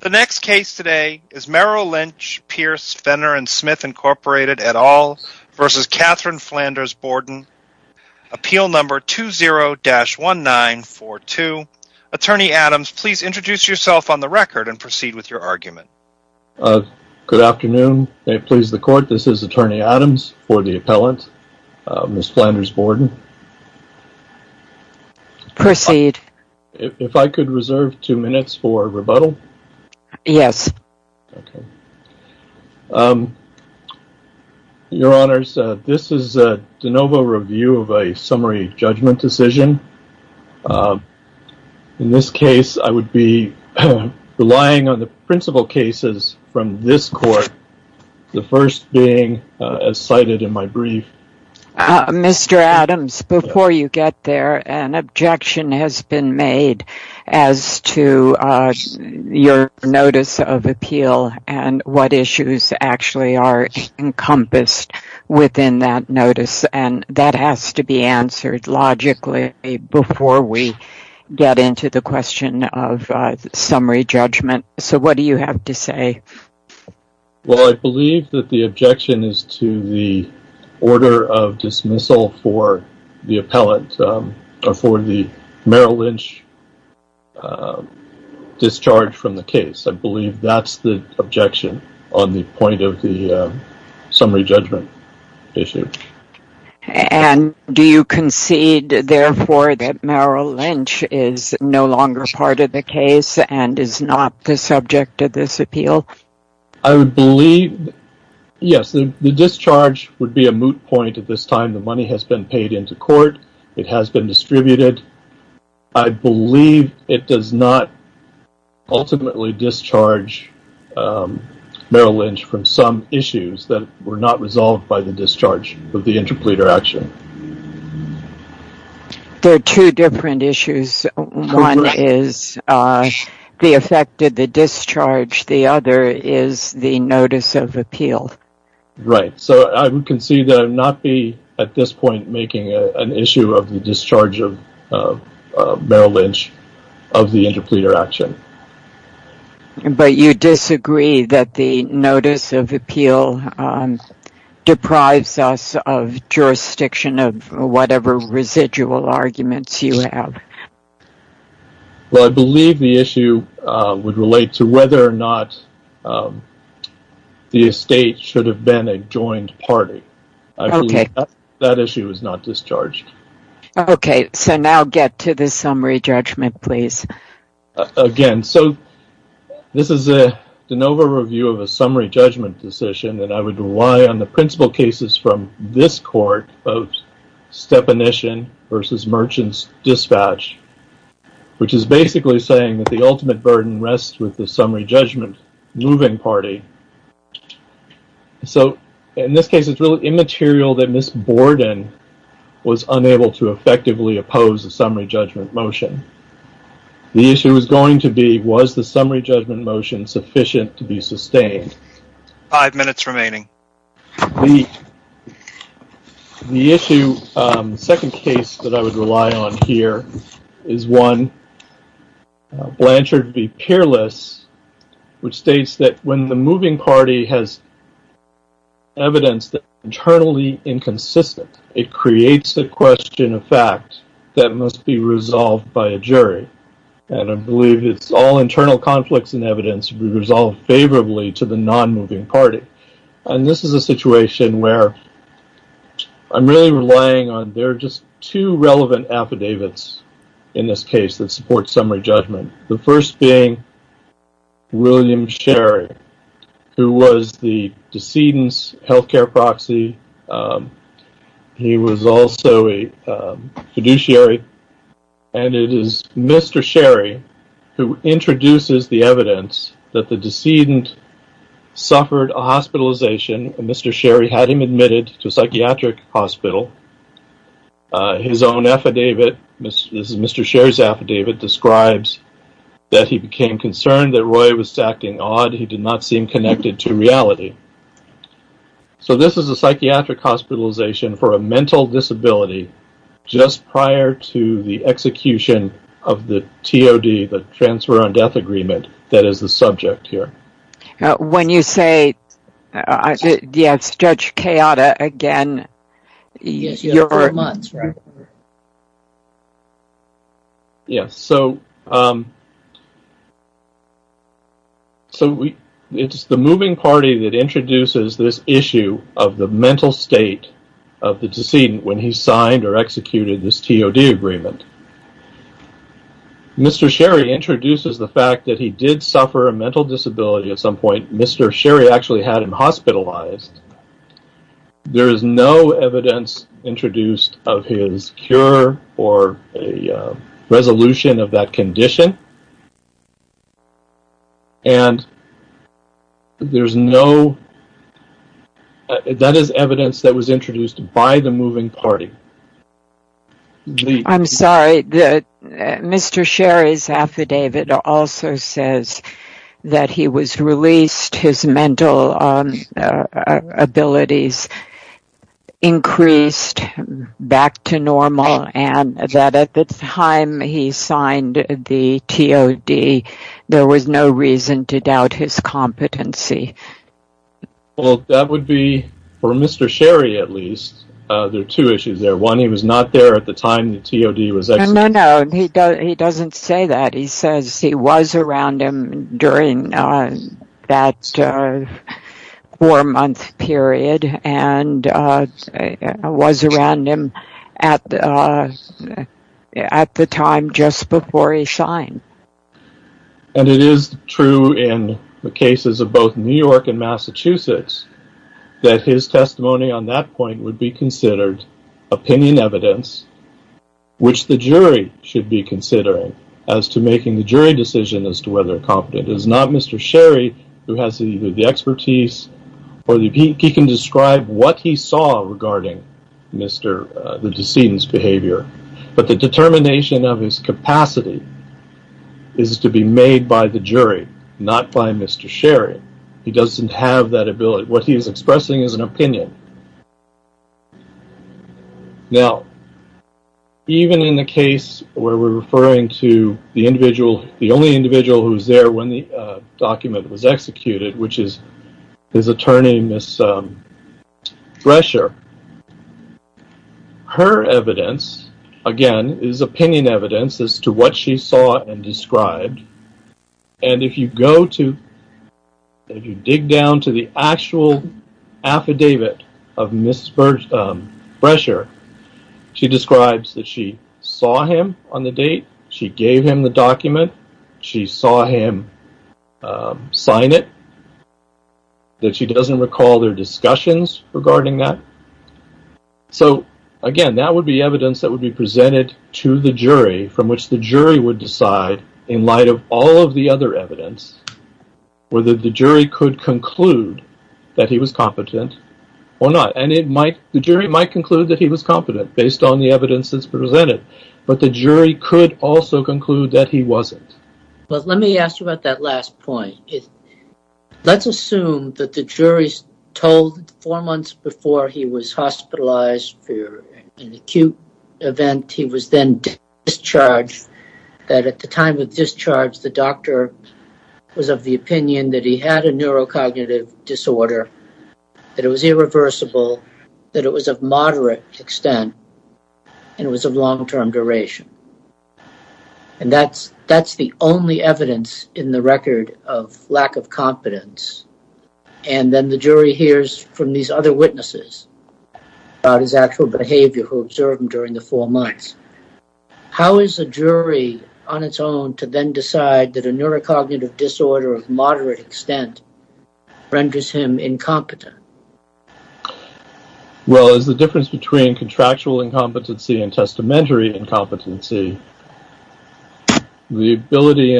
The next case today is Merrill Lynch, Pierce, Fenner, and Smith, Inc. et al. v. Catherine Flanders-Borden. Appeal number 20-1942. Attorney Adams, please introduce yourself on the record and proceed with your argument. Good afternoon. May it please the court, this is Attorney Adams for the appellant, Ms. Flanders-Borden. Proceed. If I could reserve two minutes for rebuttal? Yes. Okay. Your Honors, this is a de novo review of a summary judgment decision. In this case, I would be relying on the principal cases from this court, the first being as cited in my brief. Mr. Adams, before you get there, an objection has been made as to your notice of appeal and what issues actually are encompassed within that notice, and that has to be answered logically before we get into the question of summary judgment. So what do you have to say? Well, I believe that the objection is to the order of dismissal for the Merrill Lynch discharge from the case. I believe that's the objection on the point of the summary judgment issue. And do you concede, therefore, that Merrill Lynch is no longer part of the case and is not the subject of this appeal? I would believe, yes, the discharge would be a moot point at this time. The money has been paid into court. It has been distributed. I believe it does not ultimately discharge Merrill Lynch from some issues that were not resolved by the discharge of the interpleader action. There are two different issues. One is the effect of the discharge. The other is the notice of appeal. Right. So I would concede that I would not be at this point making an issue of the discharge of Merrill Lynch of the interpleader action. But you disagree that the notice of appeal deprives us of jurisdiction of whatever residual arguments you have. Well, I believe the issue would relate to whether or not the estate should have been a joined party. I believe that issue is not discharged. OK, so now get to the summary judgment, please. Again, so this is a DeNova review of a summary judgment decision that I would rely on the principal cases from this court of Stepanishin versus Merchants Dispatch, which is basically saying that the ultimate burden rests with the summary judgment moving party. So in this case, it's really immaterial that Miss Borden was unable to effectively oppose the summary judgment motion. The issue is going to be, was the summary judgment motion sufficient to be sustained? Five minutes remaining. The. The issue, second case that I would rely on here is one Blanchard v. Peerless, which states that when the moving party has. Evidence that internally inconsistent, it creates the question of fact that must be resolved by a jury. And I believe it's all internal conflicts and evidence resolved favorably to the non moving party. And this is a situation where I'm really relying on. There are just two relevant affidavits in this case that support summary judgment. The first being. William Sherry, who was the decedent's health care proxy. He was also a fiduciary and it is Mr. Sherry who introduces the evidence that the decedent suffered a hospitalization. And Mr. Sherry had him admitted to a psychiatric hospital. His own affidavit, Mr. Sherry's affidavit describes that he became concerned that Roy was acting odd. He did not seem connected to reality. So this is a psychiatric hospitalization for a mental disability. Just prior to the execution of the T.O.D., the transfer on death agreement. That is the subject here. When you say. Yes. Judge Kayada again. Yes, you are months, right? Yes. So. So it's the moving party that introduces this issue of the mental state of the decedent when he signed or executed this T.O.D. agreement. Mr. Sherry introduces the fact that he did suffer a mental disability at some point. Mr. Sherry actually had him hospitalized. There is no evidence introduced of his cure or a resolution of that condition. And. There's no. That is evidence that was introduced by the moving party. I'm sorry. Mr. Sherry's affidavit also says that he was released. His mental abilities increased back to normal. And that at the time he signed the T.O.D., there was no reason to doubt his competency. Well, that would be for Mr. Sherry, at least there are two issues there. One, he was not there at the time the T.O.D. was. No, no, no. He doesn't say that. He says he was around him during that four month period and was around him at the time just before he signed. And it is true in the cases of both New York and Massachusetts that his testimony on that point would be considered opinion evidence, which the jury should be considering as to making the jury decision as to whether a competent is not Mr. Sherry, who has either the expertise or he can describe what he saw regarding Mr. The decedent's behavior. But the determination of his capacity is to be made by the jury, not by Mr. Sherry. He doesn't have that ability. What he is expressing is an opinion. Now, even in the case where we're referring to the individual, the only individual who was there when the document was executed, which is his attorney, Miss Thresher, her evidence, again, is opinion evidence as to what she saw and described. And if you go to dig down to the actual affidavit of Miss Thresher, she describes that she saw him on the date she gave him the document. She saw him sign it. That she doesn't recall their discussions regarding that. So, again, that would be evidence that would be presented to the jury from which the jury would decide, in light of all of the other evidence, whether the jury could conclude that he was competent or not. And the jury might conclude that he was competent based on the evidence that's presented. But the jury could also conclude that he wasn't. Well, let me ask you about that last point. Let's assume that the jury's told four months before he was hospitalized for an acute event, he was then discharged, that at the time of discharge, the doctor was of the opinion that he had a neurocognitive disorder, that it was irreversible, that it was of moderate extent, and it was of long-term duration. And that's the only evidence in the record of lack of competence. And then the jury hears from these other witnesses about his actual behavior, who observed him during the four months. How is a jury, on its own, to then decide that a neurocognitive disorder of moderate extent renders him incompetent? Well, there's a difference between contractual incompetency and testamentary incompetency. The ability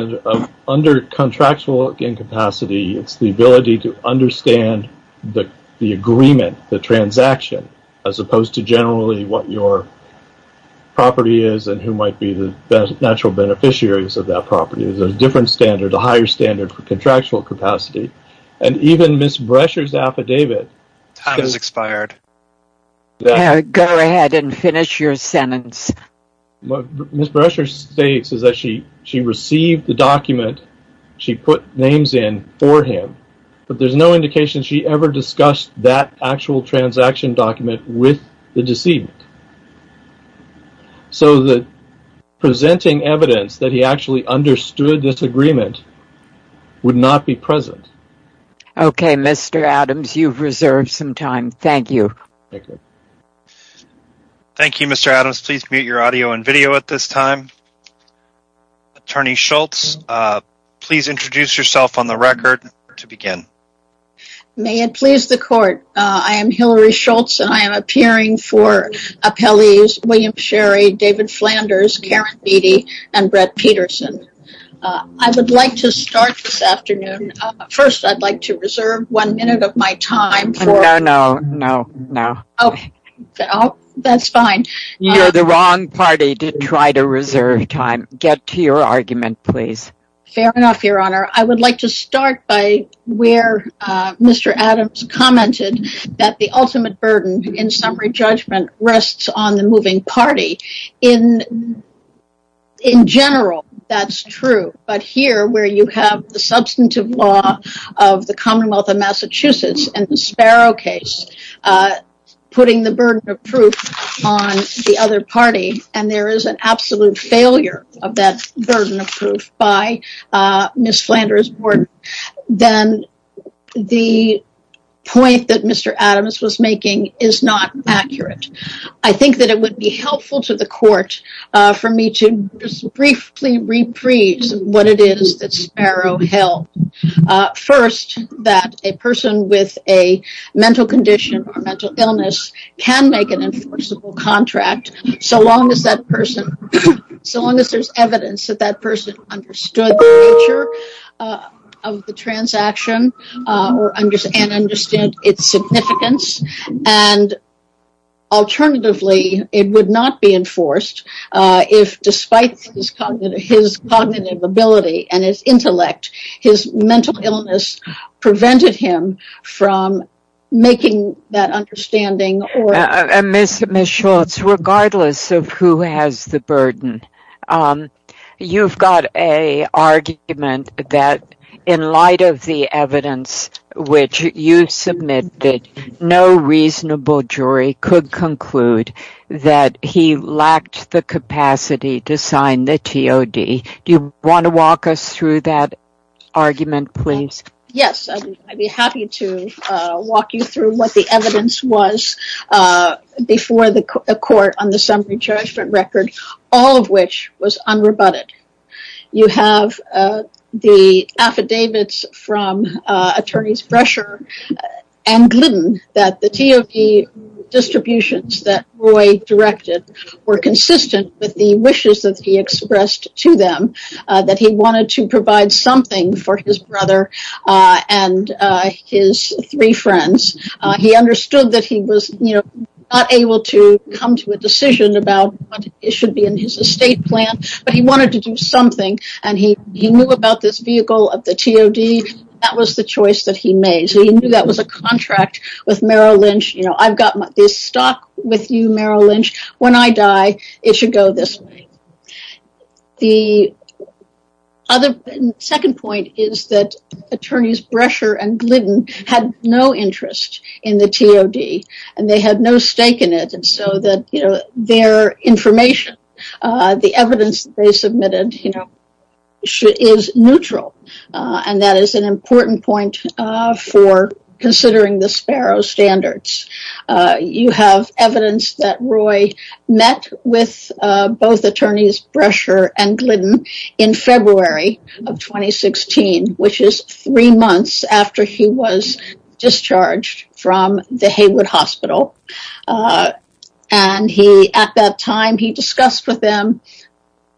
under contractual incapacity, it's the ability to understand the agreement, the transaction, as opposed to generally what your property is and who might be the natural beneficiaries of that property. There's a different standard, a higher standard for contractual capacity. And even Ms. Brescher's affidavit— Time has expired. Go ahead and finish your sentence. Ms. Brescher states that she received the document, she put names in for him, but there's no indication she ever discussed that actual transaction document with the decedent. So the presenting evidence that he actually understood this agreement would not be present. Okay, Mr. Adams, you've reserved some time. Thank you. Thank you. Thank you, Mr. Adams. Please mute your audio and video at this time. Attorney Schultz, please introduce yourself on the record to begin. May it please the court, I am Hillary Schultz, and I am appearing for appellees William Sherry, David Flanders, Karen Beattie, and Brett Peterson. I would like to start this afternoon. First, I'd like to reserve one minute of my time for— No, no, no, no. Oh, that's fine. You're the wrong party to try to reserve time. Get to your argument, please. Fair enough, Your Honor. I would like to start by where Mr. Adams commented that the ultimate burden in summary judgment rests on the moving party. In general, that's true. But here, where you have the substantive law of the Commonwealth of Massachusetts and the Sparrow case putting the burden of proof on the other party, and there is an absolute failure of that burden of proof by Ms. Flanders' board, then the point that Mr. Adams was making is not accurate. I think that it would be helpful to the court for me to briefly rephrase what it is that Sparrow held. First, that a person with a mental condition or mental illness can make an enforceable contract so long as that person— And alternatively, it would not be enforced if, despite his cognitive ability and his intellect, his mental illness prevented him from making that understanding or— Ms. Schultz, regardless of who has the burden, you've got an argument that, in light of the evidence which you submitted, no reasonable jury could conclude that he lacked the capacity to sign the TOD. Do you want to walk us through that argument, please? Yes, I'd be happy to walk you through what the evidence was before the court on the summary judgment record, all of which was unrebutted. You have the affidavits from Attorneys Bresher and Glidden that the TOD distributions that Roy directed were consistent with the wishes that he expressed to them, that he wanted to provide something for his brother and his three friends. He understood that he was not able to come to a decision about what should be in his estate plan, but he wanted to do something, and he knew about this vehicle of the TOD. That was the choice that he made. He knew that was a contract with Merrill Lynch. I've got this stock with you, Merrill Lynch. When I die, it should go this way. The second point is that Attorneys Bresher and Glidden had no interest in the TOD, and they had no stake in it, so their information, the evidence they submitted, is neutral. That is an important point for considering the Sparrow standards. You have evidence that Roy met with both Attorneys Bresher and Glidden in February of 2016, which is three months after he was discharged from the Haywood Hospital. At that time, he discussed with them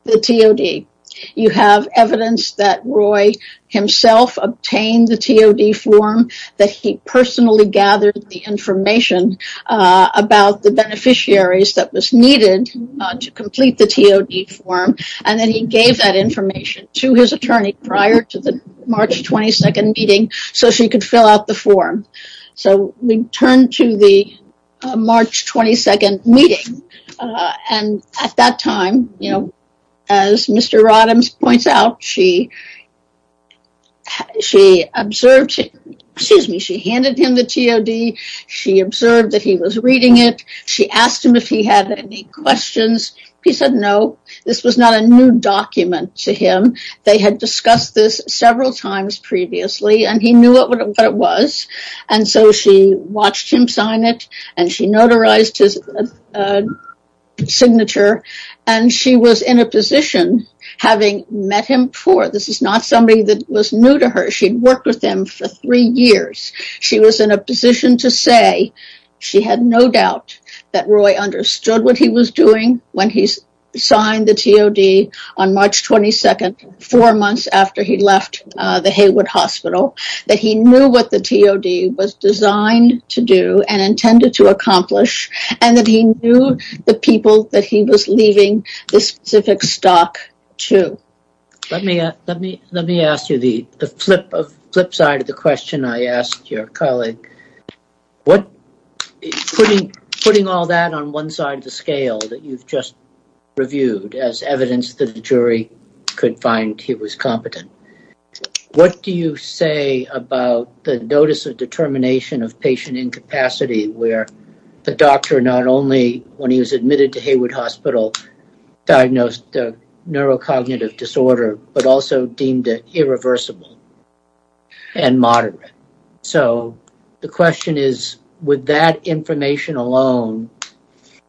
the TOD. You have evidence that Roy himself obtained the TOD form, that he personally gathered the information about the beneficiaries that was needed to complete the TOD form, and then he gave that information to his attorney prior to the March 22nd meeting so she could fill out the form. We turn to the March 22nd meeting, and at that time, as Mr. Roddams points out, she handed him the TOD. She observed that he was reading it. She asked him if he had any questions. He said no. This was not a new document to him. They had discussed this several times previously, and he knew what it was, and so she watched him sign it, and she notarized his signature, and she was in a position, having met him before. This is not somebody that was new to her. She had worked with him for three years. She was in a position to say she had no doubt that Roy understood what he was doing when he signed the TOD on March 22nd, four months after he left the Haywood Hospital, that he knew what the TOD was designed to do and intended to accomplish, and that he knew the people that he was leaving this specific stock to. Let me ask you the flip side of the question I asked your colleague. Putting all that on one side of the scale that you've just reviewed as evidence that the jury could find he was competent, what do you say about the notice of determination of patient incapacity where the doctor not only, when he was admitted to Haywood Hospital, diagnosed a neurocognitive disorder but also deemed it irreversible and moderate? So the question is, with that information alone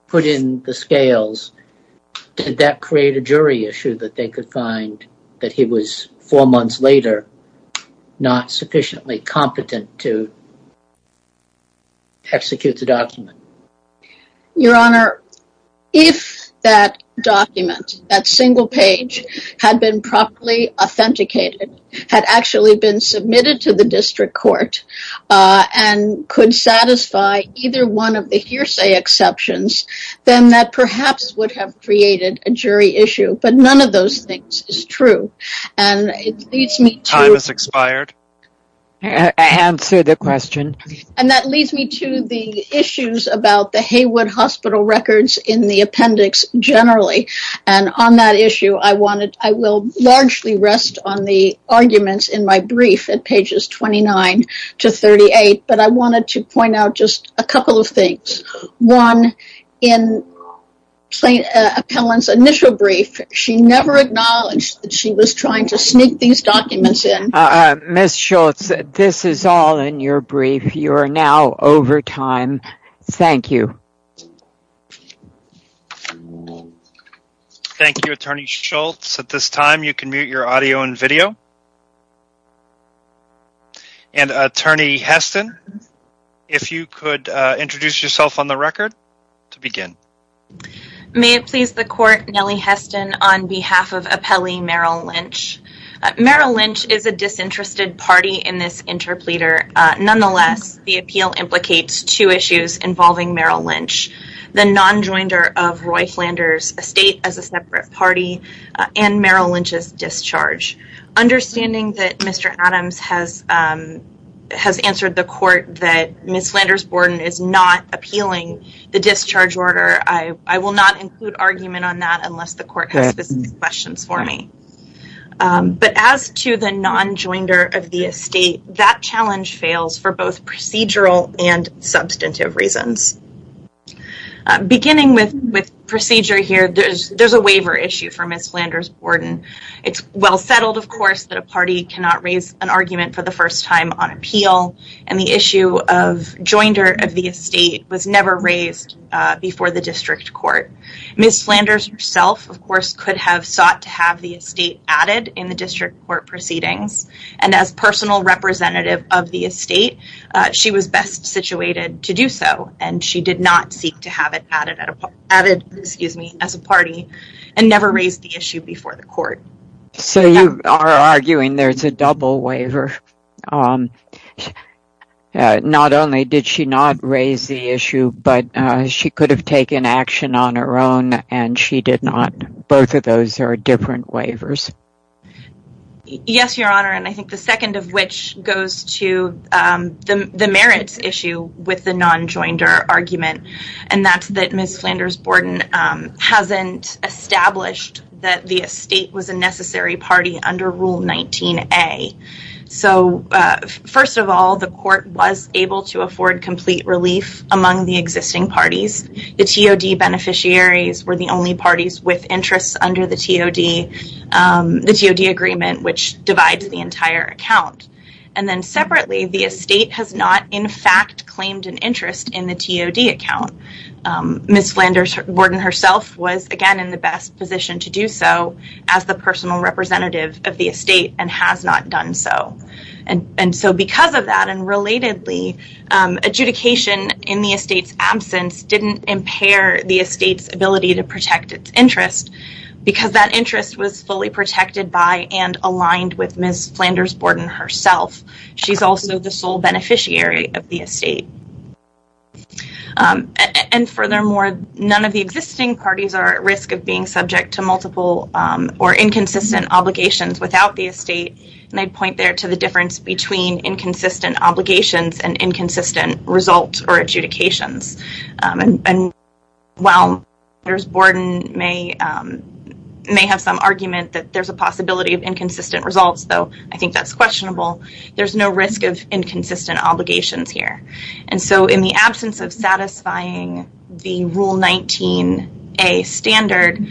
put in the scales, did that create a jury issue that they could find that he was, four months later, not sufficiently competent to execute the document? Your Honor, if that document, that single page, had been properly authenticated, had actually been submitted to the district court, and could satisfy either one of the hearsay exceptions, then that perhaps would have created a jury issue, but none of those things is true. Time has expired. Answer the question. And that leads me to the issues about the Haywood Hospital records in the appendix generally. And on that issue, I will largely rest on the arguments in my brief at pages 29 to 38, but I wanted to point out just a couple of things. One, in Appellant's initial brief, she never acknowledged that she was trying to sneak these documents in. Ms. Schultz, this is all in your brief. You are now over time. Thank you. Thank you, Attorney Schultz. At this time, you can mute your audio and video. And Attorney Heston, if you could introduce yourself on the record to begin. May it please the Court, Nellie Heston, on behalf of Appellee Merrill Lynch. Merrill Lynch is a disinterested party in this interpleader. Nonetheless, the appeal implicates two issues involving Merrill Lynch. The non-joinder of Roy Flanders' estate as a separate party and Merrill Lynch's discharge. Understanding that Mr. Adams has answered the Court that Ms. Flanders Borden is not appealing the discharge order, I will not include argument on that unless the Court has specific questions for me. But as to the non-joinder of the estate, that challenge fails for both procedural and substantive reasons. Beginning with procedure here, there's a waiver issue for Ms. Flanders Borden. It's well settled, of course, that a party cannot raise an argument for the first time on appeal. And the issue of joinder of the estate was never raised before the District Court. Ms. Flanders herself, of course, could have sought to have the estate added in the District Court proceedings. And as personal representative of the estate, she was best situated to do so. And she did not seek to have it added as a party and never raised the issue before the Court. So you are arguing there's a double waiver. Not only did she not raise the issue, but she could have taken action on her own and she did not. Both of those are different waivers. Yes, Your Honor. And I think the second of which goes to the merits issue with the non-joinder argument. And that's that Ms. Flanders Borden hasn't established that the estate was a necessary party under Rule 19A. So, first of all, the Court was able to afford complete relief among the existing parties. The TOD beneficiaries were the only parties with interests under the TOD agreement, which divides the entire account. And then separately, the estate has not, in fact, claimed an interest in the TOD account. Ms. Flanders Borden herself was, again, in the best position to do so as the personal representative of the estate and has not done so. And so because of that, and relatedly, adjudication in the estate's absence didn't impair the estate's ability to protect its interest because that interest was fully protected by and aligned with Ms. Flanders Borden herself. She's also the sole beneficiary of the estate. And furthermore, none of the existing parties are at risk of being subject to multiple or inconsistent obligations without the estate. And I'd point there to the difference between inconsistent obligations and inconsistent results or adjudications. And while Ms. Flanders Borden may have some argument that there's a possibility of inconsistent results, though I think that's questionable, there's no risk of inconsistent obligations here. And so in the absence of satisfying the Rule 19A standard,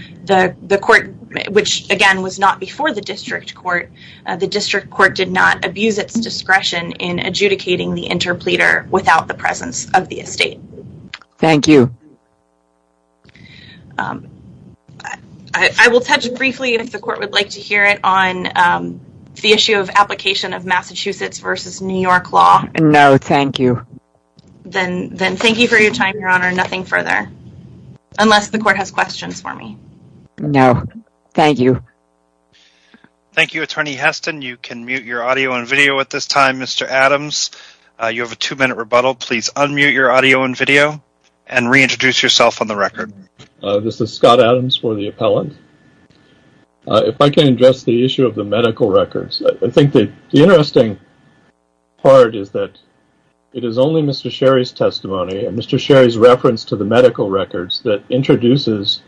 which, again, was not before the district court, the district court did not abuse its discretion in adjudicating the interpleader without the presence of the estate. Thank you. I will touch briefly, if the court would like to hear it, on the issue of application of Massachusetts v. New York law. No, thank you. Then thank you for your time, Your Honor. Nothing further. Unless the court has questions for me. No. Thank you. Thank you, Attorney Heston. You can mute your audio and video at this time, Mr. Adams. You have a two-minute rebuttal. Please unmute your audio and video and reintroduce yourself on the record. This is Scott Adams for the appellant. If I can address the issue of the medical records, I think the interesting part is that it is only Mr. Sherry's testimony and Mr. Sherry's reference to the medical records that introduces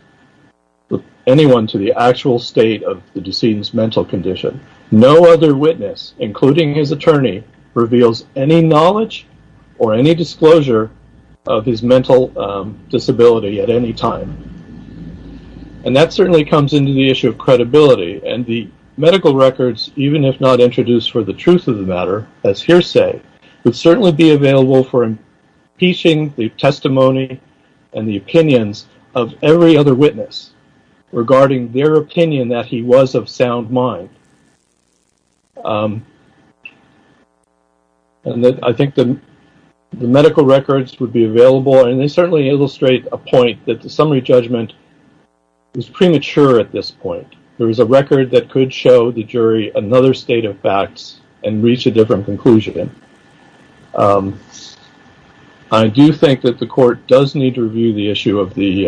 anyone to the actual state of the decedent's mental condition. No other witness, including his attorney, reveals any knowledge or any disclosure of his mental disability at any time. And that certainly comes into the issue of credibility. And the medical records, even if not introduced for the truth of the matter, as hearsay, would certainly be available for impeaching the testimony and the opinions of every other witness regarding their opinion that he was of sound mind. And I think the medical records would be available, and they certainly illustrate a point that the summary judgment is premature at this point. There is a record that could show the jury another state of facts and reach a different conclusion. I do think that the court does need to review the issue of the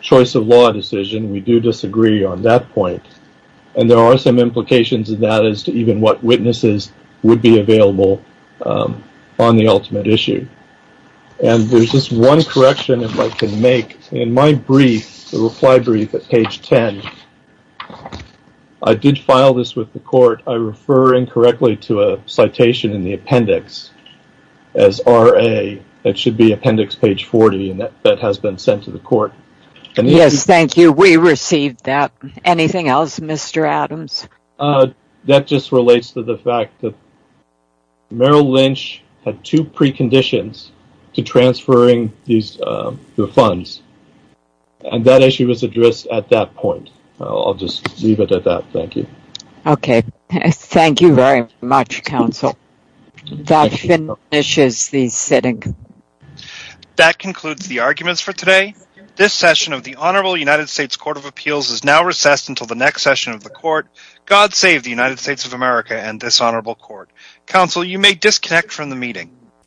choice of law decision. We do disagree on that point. And there are some implications of that as to even what witnesses would be available on the ultimate issue. And there's just one correction if I can make. In my brief, the reply brief at page 10, I did file this with the court. I refer incorrectly to a citation in the appendix as RA. It should be appendix page 40, and that has been sent to the court. Yes, thank you. We received that. Anything else, Mr. Adams? That just relates to the fact that Merrill Lynch had two preconditions to transferring the funds. And that issue was addressed at that point. I'll just leave it at that. Thank you. Okay. Thank you very much, counsel. That finishes the sitting. That concludes the arguments for today. The first session of the Honorable United States Court of Appeals is now recessed until the next session of the court. God save the United States of America and this honorable court. Counsel, you may disconnect from the meeting.